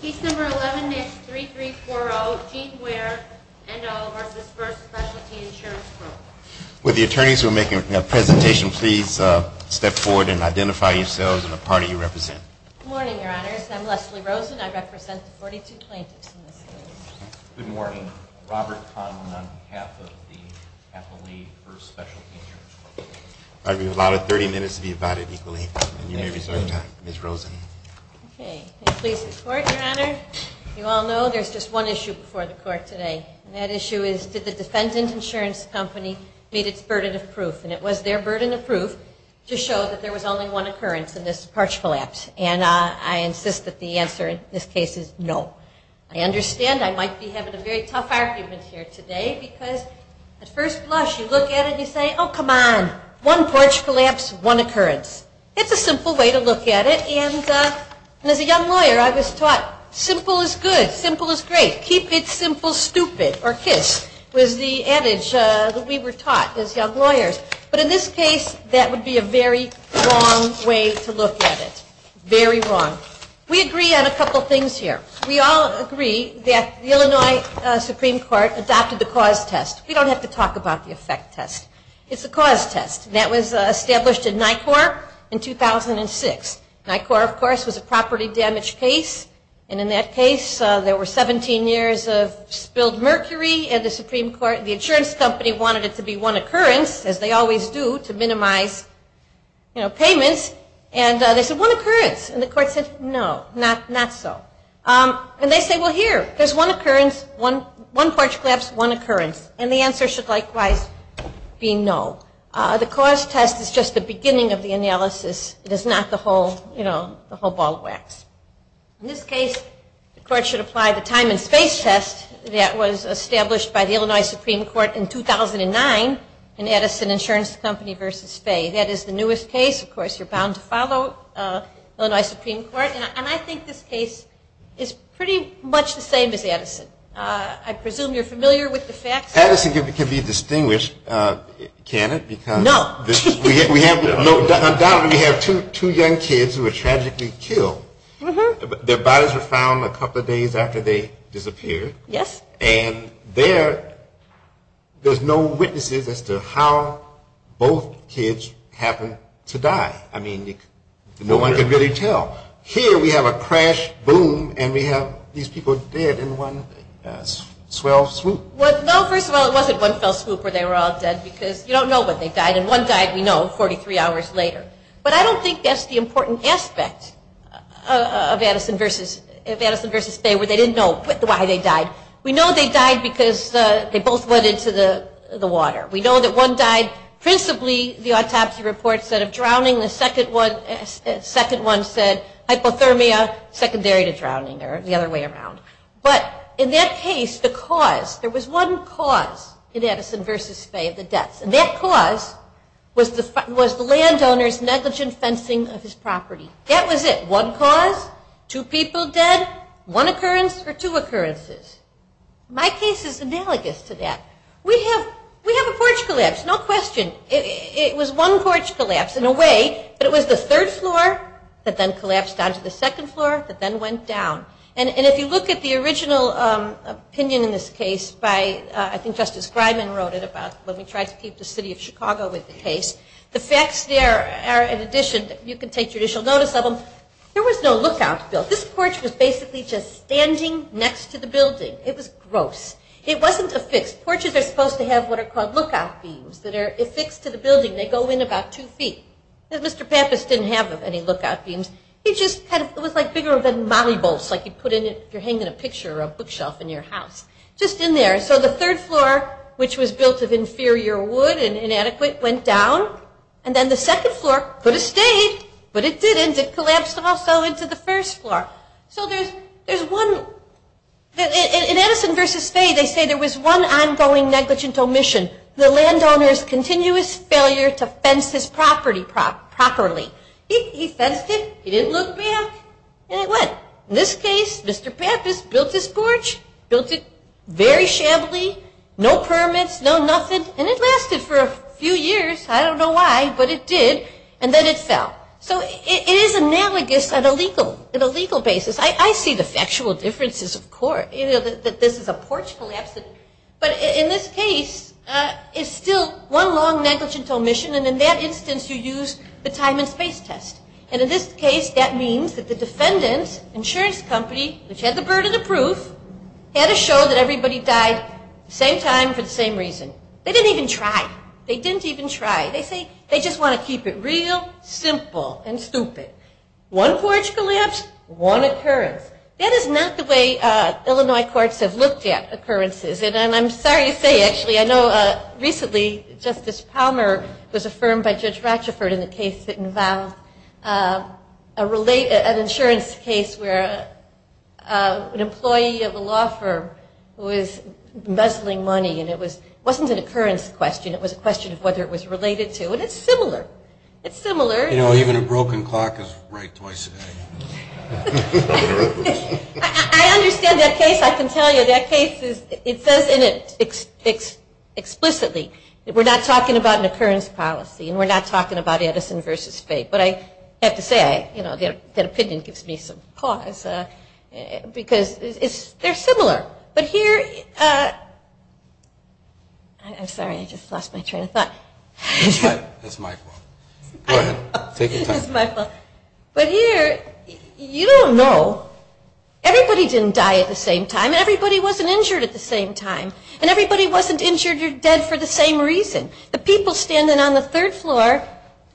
Case number 11-3340, Gene Ware, NO, versus First Specialty Insurance Corp. Would the attorneys who are making a presentation please step forward and identify yourselves and the party you represent. Good morning, Your Honors. I'm Leslie Rosen. I represent the 42 plaintiffs in this case. Good morning. Robert Conlon on behalf of the Appellee for Specialty Insurance Corp. I'll give you about 30 minutes to be divided equally, and you may reserve your time. Ms. Rosen. Okay. Please report, Your Honor. You all know there's just one issue before the court today. And that issue is did the defendant insurance company meet its burden of proof? And it was their burden of proof to show that there was only one occurrence in this porch collapse. And I insist that the answer in this case is no. I understand I might be having a very tough argument here today because at first blush you look at it and you say, oh, come on, one porch collapse, one occurrence. It's a simple way to look at it. And as a young lawyer, I was taught simple is good, simple is great. Keep it simple, stupid, or kiss was the adage that we were taught as young lawyers. But in this case, that would be a very wrong way to look at it. Very wrong. We agree on a couple things here. We all agree that the Illinois Supreme Court adopted the cause test. We don't have to talk about the effect test. It's the cause test. And that was established in NICOR in 2006. NICOR, of course, was a property damage case. And in that case, there were 17 years of spilled mercury and the insurance company wanted it to be one occurrence, as they always do, to minimize, you know, payments. And they said, one occurrence. And the court said, no, not so. And they say, well, here, there's one occurrence, one porch collapse, one occurrence. And the answer should likewise be no. The cause test is just the beginning of the analysis. It is not the whole, you know, the whole ball of wax. In this case, the court should apply the time and space test that was established by the Illinois Supreme Court in 2009 in Edison Insurance Company versus Fay. That is the newest case. Of course, you're bound to follow Illinois Supreme Court. And I think this case is pretty much the same as Edison. I presume you're familiar with the facts. Edison can be distinguished, can it? No. Because undoubtedly we have two young kids who were tragically killed. Their bodies were found a couple of days after they disappeared. Yes. And there, there's no witnesses as to how both kids happened to die. I mean, no one can really tell. Here we have a crash, boom, and we have these people dead in one swell swoop. Well, no, first of all, it wasn't one fell swoop where they were all dead because you don't know when they died. And one died, we know, 43 hours later. But I don't think that's the important aspect of Edison versus Fay where they didn't know why they died. We know they died because they both went into the water. We know that one died principally, the autopsy report said, of drowning. The second one said hypothermia secondary to drowning or the other way around. But in that case, the cause, there was one cause in Edison versus Fay of the deaths. And that cause was the landowner's negligent fencing of his property. That was it. One cause, two people dead, one occurrence or two occurrences. My case is analogous to that. We have a porch collapse, no question. It was one porch collapse in a way, but it was the third floor that then collapsed down to the second floor, that then went down. And if you look at the original opinion in this case by, I think Justice Greiman wrote it about when we tried to keep the city of Chicago with the case, the facts there are in addition, you can take judicial notice of them, there was no lookout built. This porch was basically just standing next to the building. It was gross. It wasn't affixed. It was affixed to the building. They go in about two feet. Mr. Pappas didn't have any lookout beams. He just had, it was like bigger than molly bolts like you put in if you're hanging a picture or a bookshelf in your house, just in there. So the third floor, which was built of inferior wood and inadequate, went down. And then the second floor could have stayed, but it didn't. It collapsed also into the first floor. So there's one, in Edison versus Fay, they say there was one ongoing negligent omission. The landowner's continuous failure to fence his property properly. He fenced it. He didn't look back, and it went. In this case, Mr. Pappas built this porch, built it very shabbily, no permits, no nothing, and it lasted for a few years. I don't know why, but it did. And then it fell. So it is analogous on a legal basis. I see the factual differences, of course, that this is a porch collapse. But in this case, it's still one long negligent omission, and in that instance, you use the time and space test. And in this case, that means that the defendant's insurance company, which had the burden of proof, had to show that everybody died at the same time for the same reason. They didn't even try. They didn't even try. They say they just want to keep it real simple and stupid. One porch collapse, one occurrence. That is not the way Illinois courts have looked at occurrences. And I'm sorry to say, actually, I know recently Justice Palmer was affirmed by Judge Ratchford in a case that involved an insurance case where an employee of a law firm was muzzling money, and it wasn't an occurrence question. It was a question of whether it was related to. And it's similar. It's similar. You know, even a broken clock is right twice a day. I understand that case. I can tell you that case is, it says in it explicitly that we're not talking about an occurrence policy and we're not talking about Edison versus Fate. But I have to say, you know, that opinion gives me some pause because they're similar. But here, I'm sorry, I just lost my train of thought. That's my fault. Go ahead. Take your time. That's my fault. But here, you don't know, everybody didn't die at the same time and everybody wasn't injured at the same time. And everybody wasn't injured or dead for the same reason. The people standing on the third floor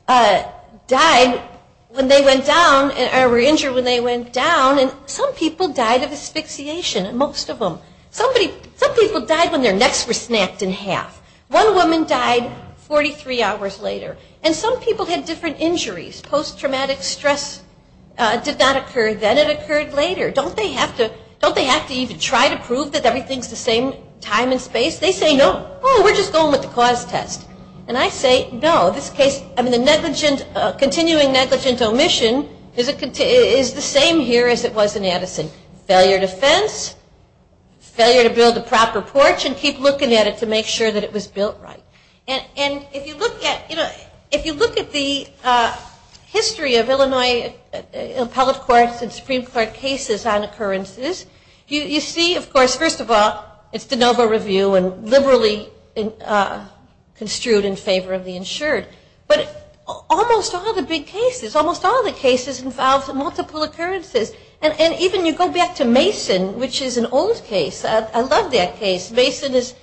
died when they went down, or were injured when they went down, and some people died of asphyxiation, most of them. Some people died when their necks were snapped in half. One woman died 43 hours later. And some people had different injuries. Post-traumatic stress did not occur then. It occurred later. Don't they have to even try to prove that everything's the same time and space? They say no. Oh, we're just going with the cause test. And I say no. This case, I mean, the continuing negligent omission is the same here as it was in Edison. Failure to fence, failure to build the proper porch, and keep looking at it to make sure that it was built right. And if you look at the history of Illinois Appellate Courts and Supreme Court cases on occurrences, you see, of course, first of all, it's de novo review and liberally construed in favor of the insured. But almost all the big cases, almost all the cases involve multiple occurrences. And even you go back to Mason, which is an old case. I love that case. Mason is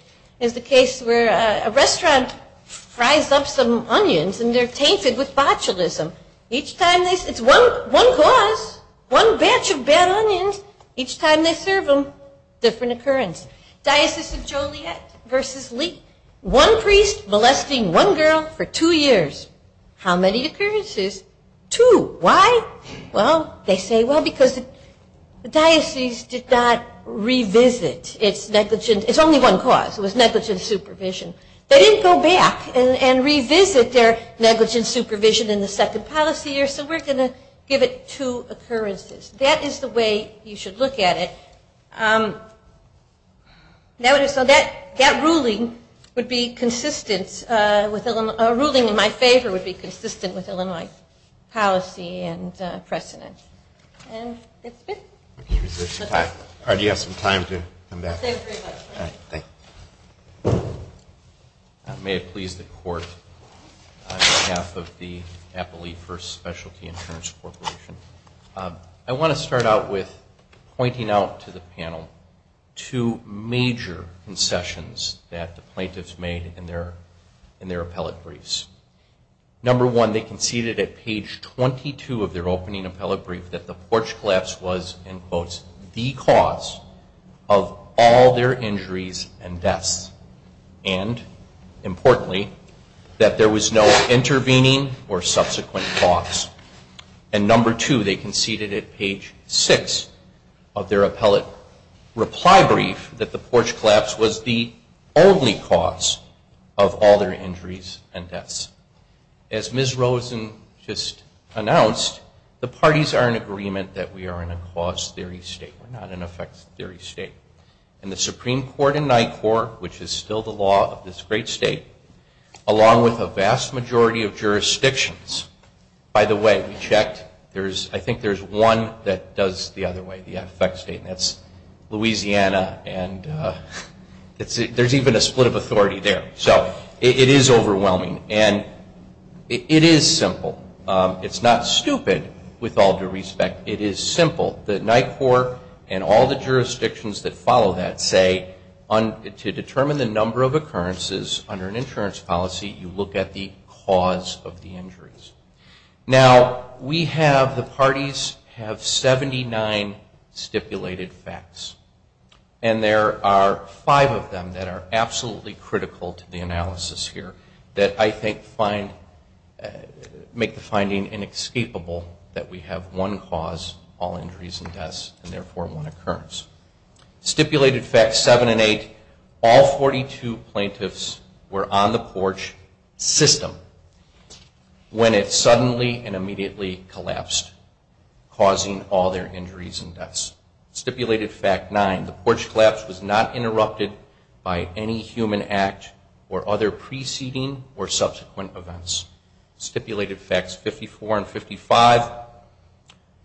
the case where a restaurant fries up some onions and they're tainted with botulism. It's one cause, one batch of bad onions. Each time they serve them, different occurrence. Diocese of Joliet versus Lee. One priest molesting one girl for two years. How many occurrences? Two. Why? Well, they say, well, because the diocese did not revisit its negligent. It's only one cause. It was negligent supervision. They didn't go back and revisit their negligent supervision in the second policy year, so we're going to give it two occurrences. That is the way you should look at it. So that ruling would be consistent with Illinois. A ruling in my favor would be consistent with Illinois policy and precedent. And that's it. All right. You have some time to come back. Thank you very much. All right. Thank you. May it please the Court, on behalf of the Applee First Specialty Insurance Corporation, I want to start out with pointing out to the panel two major concessions that the plaintiffs made in their appellate briefs. Number one, they conceded at page 22 of their opening appellate brief that the porch collapse was, in quotes, the cause of all their injuries and deaths. And, importantly, that there was no intervening or subsequent cause. And number two, they conceded at page six of their appellate reply brief that the porch collapse was the only As Ms. Rosen just announced, the parties are in agreement that we are in a cause theory state. We're not an effect theory state. And the Supreme Court in NICOR, which is still the law of this great state, along with a vast majority of jurisdictions, by the way, we checked, I think there's one that does it the other way, the effect state, and that's Louisiana. And there's even a split of authority there. So it is overwhelming. And it is simple. It's not stupid, with all due respect. It is simple. The NICOR and all the jurisdictions that follow that say to determine the number of occurrences under an insurance policy, you look at the cause of the injuries. Now, we have, the parties have 79 stipulated facts. And there are five of them that are absolutely critical to the analysis here that I think make the finding inescapable that we have one cause, all injuries and deaths, and therefore one occurrence. Stipulated facts seven and eight, all 42 plaintiffs were on the porch system when it suddenly and immediately collapsed, causing all their injuries and deaths. Stipulated fact nine, the porch collapse was not interrupted by any human act or other preceding or subsequent events. Stipulated facts 54 and 55,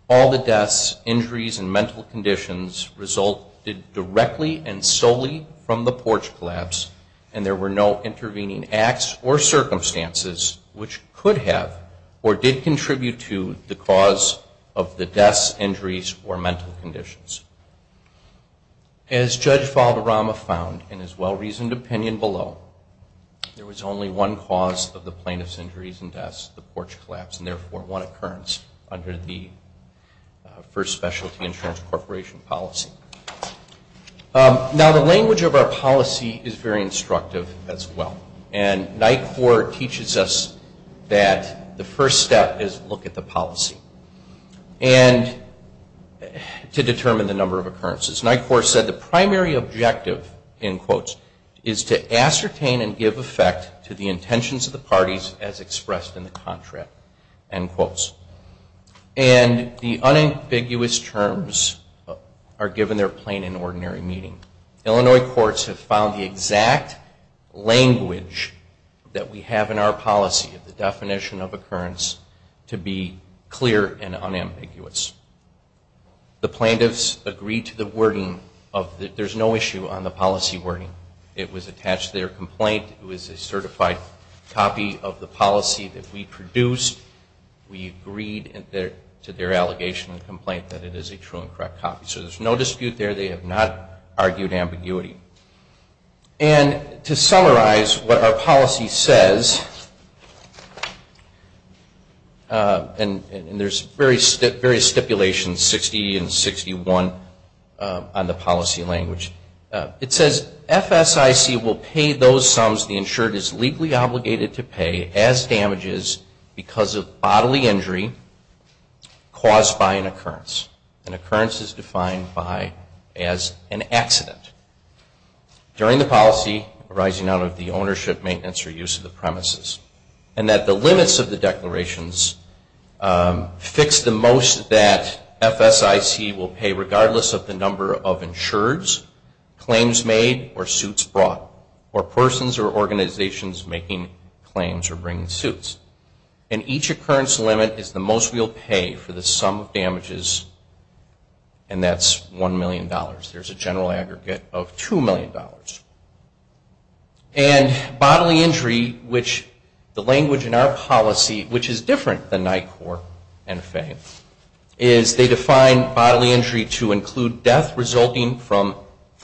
all the deaths, injuries, and mental conditions resulted directly and solely from the porch collapse, and there were no intervening acts or circumstances which could have or did contribute to the cause of the deaths, injuries, or mental conditions. As Judge Valderrama found in his well-reasoned opinion below, there was only one cause of the plaintiff's injuries and deaths, the porch collapse, and therefore one occurrence under the First Specialty Insurance Corporation policy. Now, the language of our policy is very instructive as well. And NICOR teaches us that the first step is look at the policy and to determine the number of occurrences. NICOR said the primary objective, in quotes, is to ascertain and give effect to the intentions of the parties as expressed in the contract, end quotes. And the unambiguous terms are given their plain and ordinary meaning. Illinois courts have found the exact language that we have in our policy, the definition of occurrence, to be clear and unambiguous. The plaintiffs agreed to the wording of there's no issue on the policy wording. It was attached to their complaint. It was a certified copy of the policy that we produced. We agreed to their allegation and complaint that it is a true and correct copy. So there's no dispute there. They have not argued ambiguity. And to summarize what our policy says, and there's various stipulations, 60 and 61, on the policy language. It says FSIC will pay those sums the insured is legally obligated to pay as damages because of bodily injury caused by an occurrence. An occurrence is defined as an accident during the policy arising out of the ownership, maintenance, or use of the premises. And that the limits of the declarations fix the most that FSIC will pay, regardless of the number of insureds, claims made, or suits brought, or persons or organizations making claims or bringing suits. And each occurrence limit is the most we'll pay for the sum of damages, and that's $1 million. There's a general aggregate of $2 million. And bodily injury, which the language in our policy, which is different than NICOR and FAME, is they define bodily injury to include death resulting from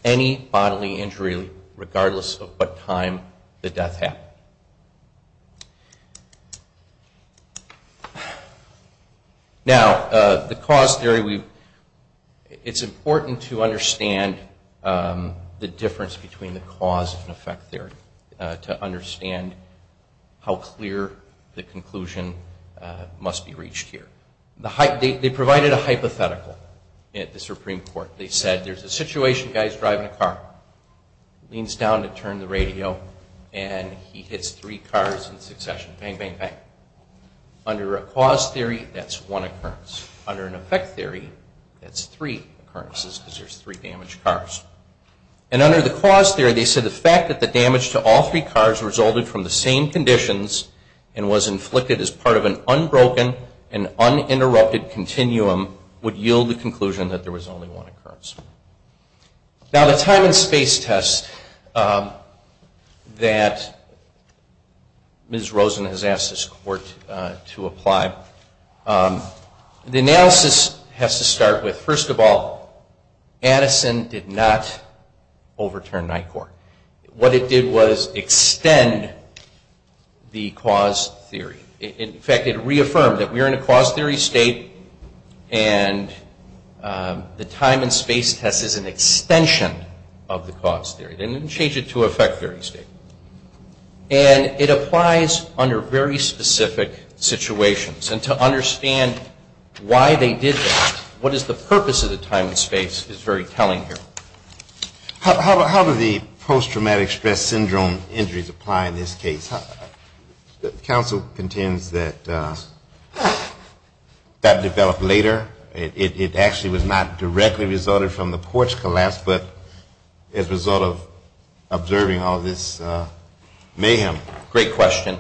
any bodily injury, regardless of what time the death happened. Now, the cause theory, it's important to understand the difference between the cause and effect theory to understand how clear the conclusion must be reached here. They provided a hypothetical at the Supreme Court. They said there's a situation, a guy's driving a car. He leans down to turn the radio, and he hits three cars in succession. Bang, bang, bang. Under a cause theory, that's one occurrence. Under an effect theory, that's three occurrences, because there's three damaged cars. And under the cause theory, they said the fact that the damage to all three cars resulted from the same conditions and was inflicted as part of an unbroken and uninterrupted continuum would yield the conclusion that there was only one occurrence. Now, the time and space test that Ms. Rosen has asked this Court to apply, the analysis has to start with, first of all, Addison did not overturn NICOR. What it did was extend the cause theory. In fact, it reaffirmed that we are in a cause theory state and the time and space test is an extension of the cause theory. They didn't change it to an effect theory state. And it applies under very specific situations. And to understand why they did that, what is the purpose of the time and space is very telling here. How do the post-traumatic stress syndrome injuries apply in this case? Counsel contends that that developed later. It actually was not directly resulted from the porch collapse, but as a result of observing all this mayhem. Great question.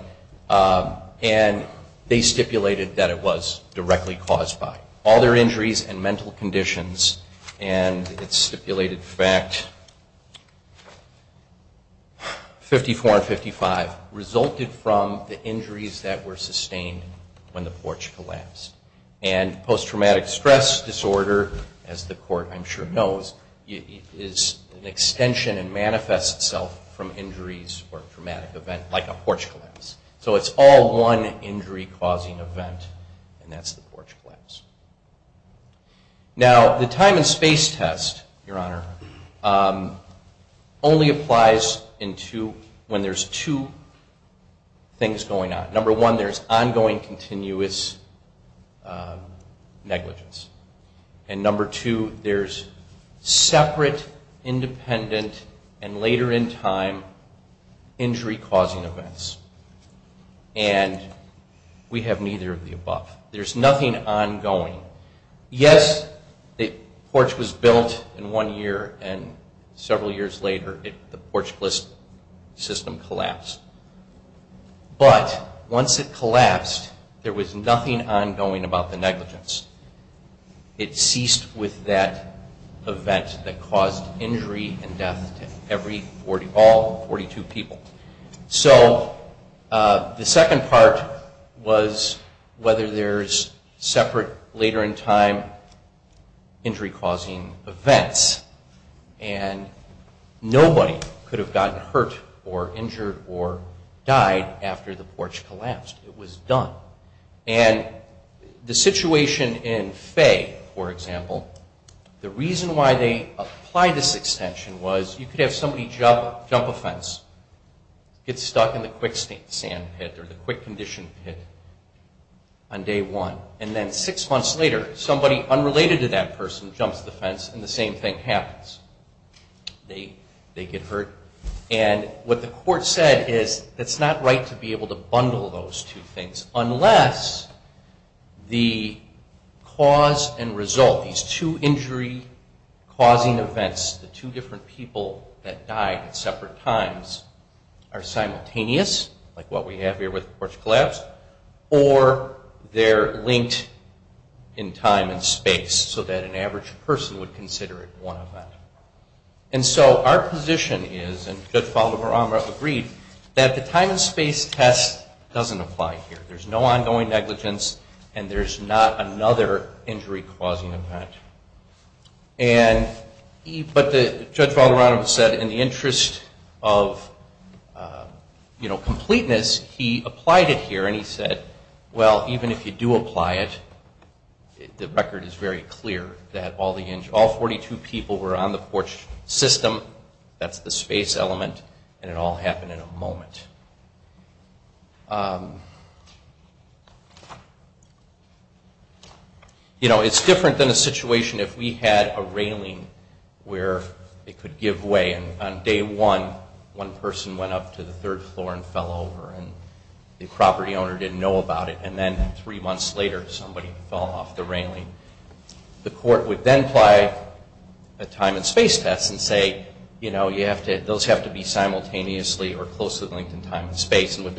And they stipulated that it was directly caused by all their injuries and mental conditions. And it stipulated the fact 54 and 55 resulted from the injuries that were sustained when the porch collapsed. And post-traumatic stress disorder, as the Court I'm sure knows, is an extension and manifests itself from injuries or a traumatic event like a porch collapse. So it's all one injury-causing event, and that's the porch collapse. Now, the time and space test, Your Honor, only applies when there's two things going on. Number one, there's ongoing continuous negligence. And number two, there's separate, independent, and later in time injury-causing events. And we have neither of the above. There's nothing ongoing. Yes, the porch was built in one year, and several years later the porch system collapsed. But once it collapsed, there was nothing ongoing about the negligence. It ceased with that event that caused injury and death to all 42 people. So the second part was whether there's separate, later in time injury-causing events. And nobody could have gotten hurt or injured or died after the porch collapsed. It was done. And the situation in Fay, for example, the reason why they applied this extension was you could have somebody jump a fence, get stuck in the quicksand pit or the quick condition pit on day one, and then six months later somebody unrelated to that person jumps the fence and the same thing happens. They get hurt. And what the court said is it's not right to be able to bundle those two things unless the cause and result, these two injury-causing events, the two different people that died at separate times are simultaneous, like what we have here with the porch collapse, or they're linked in time and space so that an average person would consider it one event. And so our position is, and Judge Valdebar-Amra agreed, that the time and space test doesn't apply here. There's no ongoing negligence, and there's not another injury-causing event. But Judge Valdebar-Amra said in the interest of completeness, he applied it here and he said, well, even if you do apply it, the record is very clear that all 42 people were on the porch system, that's the space element, and it all happened in a moment. You know, it's different than a situation if we had a railing where it could give way, and on day one, one person went up to the third floor and fell over, and the property owner didn't know about it, and then three months later somebody fell off the railing. The court would then apply a time and space test and say, you know, and with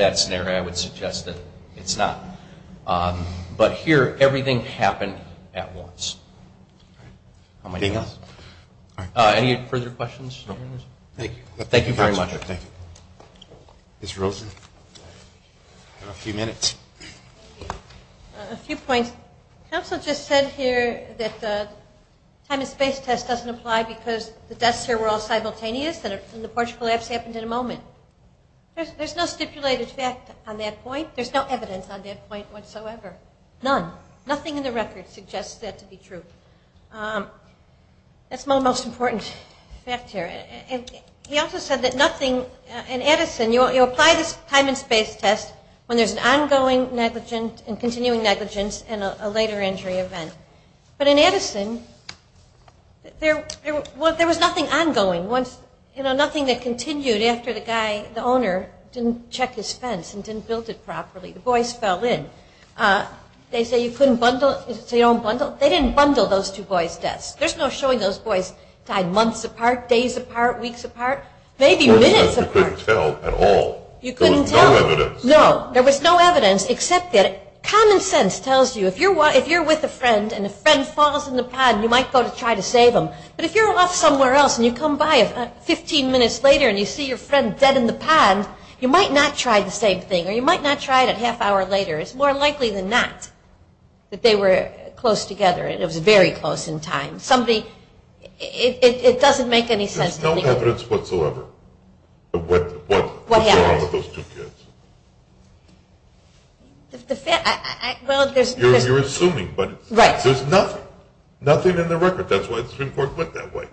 that scenario I would suggest that it's not. But here everything happened at once. Anything else? Any further questions? Thank you. Thank you very much. Ms. Rosen? I have a few minutes. A few points. Counsel just said here that the time and space test doesn't apply because the deaths here were all simultaneous and the porch collapse happened in a moment. There's no stipulated fact on that point. There's no evidence on that point whatsoever, none. Nothing in the record suggests that to be true. That's my most important fact here. He also said that nothing in Edison, you apply this time and space test when there's an ongoing negligence and continuing negligence and a later injury event. But in Edison, there was nothing ongoing, nothing that continued after the guy, the owner, didn't check his fence and didn't build it properly. The boys fell in. They say you couldn't bundle. They didn't bundle those two boys' deaths. There's no showing those boys died months apart, days apart, weeks apart, maybe minutes apart. You couldn't tell at all. There was no evidence. No, there was no evidence except that common sense tells you if you're with a friend and a friend falls in the pond, you might go to try to save him. But if you're off somewhere else and you come by 15 minutes later and you see your friend dead in the pond, you might not try the same thing or you might not try it a half hour later. It's more likely than not that they were close together. It was very close in time. It doesn't make any sense to me. There's no evidence whatsoever of what happened to those two kids. You're assuming, but there's nothing, nothing in the record. That's why the Supreme Court went that way.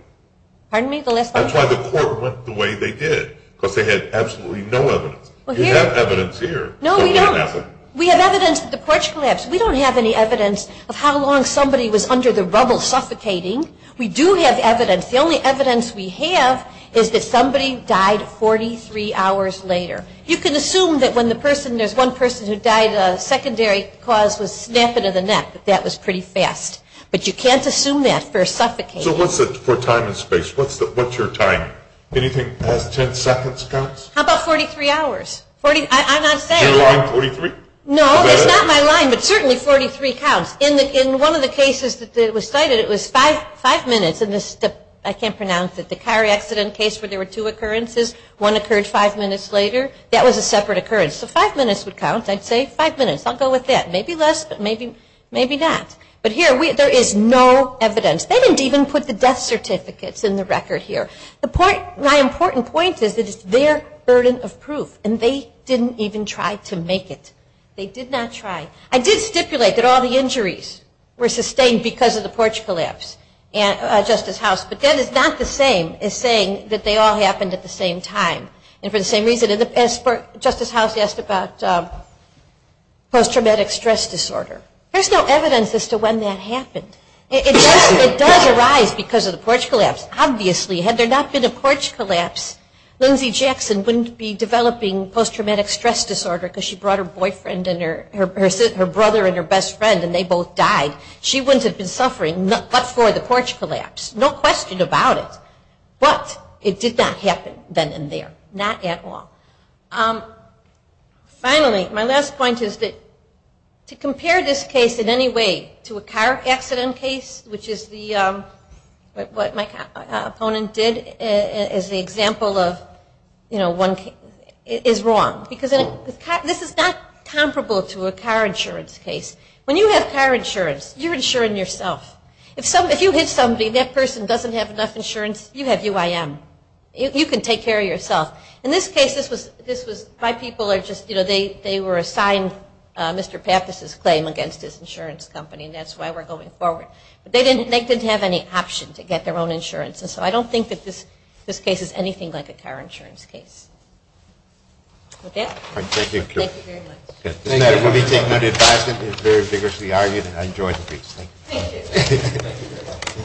Pardon me? That's why the court went the way they did because they had absolutely no evidence. You have evidence here. No, we don't. We have evidence that the porch collapsed. We don't have any evidence of how long somebody was under the rubble suffocating. We do have evidence. The only evidence we have is that somebody died 43 hours later. You can assume that when there's one person who died, a secondary cause was snapping of the neck, that that was pretty fast. But you can't assume that for suffocating. So what's the time and space? What's your time? Anything past 10 seconds counts? How about 43 hours? I'm not saying. Is your line 43? No, it's not my line, but certainly 43 counts. In one of the cases that was cited, it was five minutes. I can't pronounce it. The car accident case where there were two occurrences, one occurred five minutes later, that was a separate occurrence. So five minutes would count. I'd say five minutes. I'll go with that. Maybe less, but maybe not. But here there is no evidence. They didn't even put the death certificates in the record here. My important point is that it's their burden of proof, and they didn't even try to make it. They did not try. I did stipulate that all the injuries were sustained because of the porch collapse, Justice House, but that is not the same as saying that they all happened at the same time. And for the same reason, in the past Justice House asked about post-traumatic stress disorder. There's no evidence as to when that happened. It does arise because of the porch collapse, obviously. Had there not been a porch collapse, Lindsay Jackson wouldn't be developing post-traumatic stress disorder because she brought her brother and her best friend and they both died. She wouldn't have been suffering but for the porch collapse. No question about it. But it did not happen then and there. Not at all. Finally, my last point is that to compare this case in any way to a car accident case, which is what my opponent did as the example of one case, is wrong. Because this is not comparable to a car insurance case. When you have car insurance, you're insuring yourself. If you hit somebody, that person doesn't have enough insurance. You have UIM. You can take care of yourself. In this case, my people are just, you know, they were assigned Mr. Pappas's claim against his insurance company and that's why we're going forward. But they didn't have any option to get their own insurance. And so I don't think that this case is anything like a car insurance case. With that, thank you very much. This matter will be taken under advisement and very vigorously argued. I enjoyed the briefs. Thank you.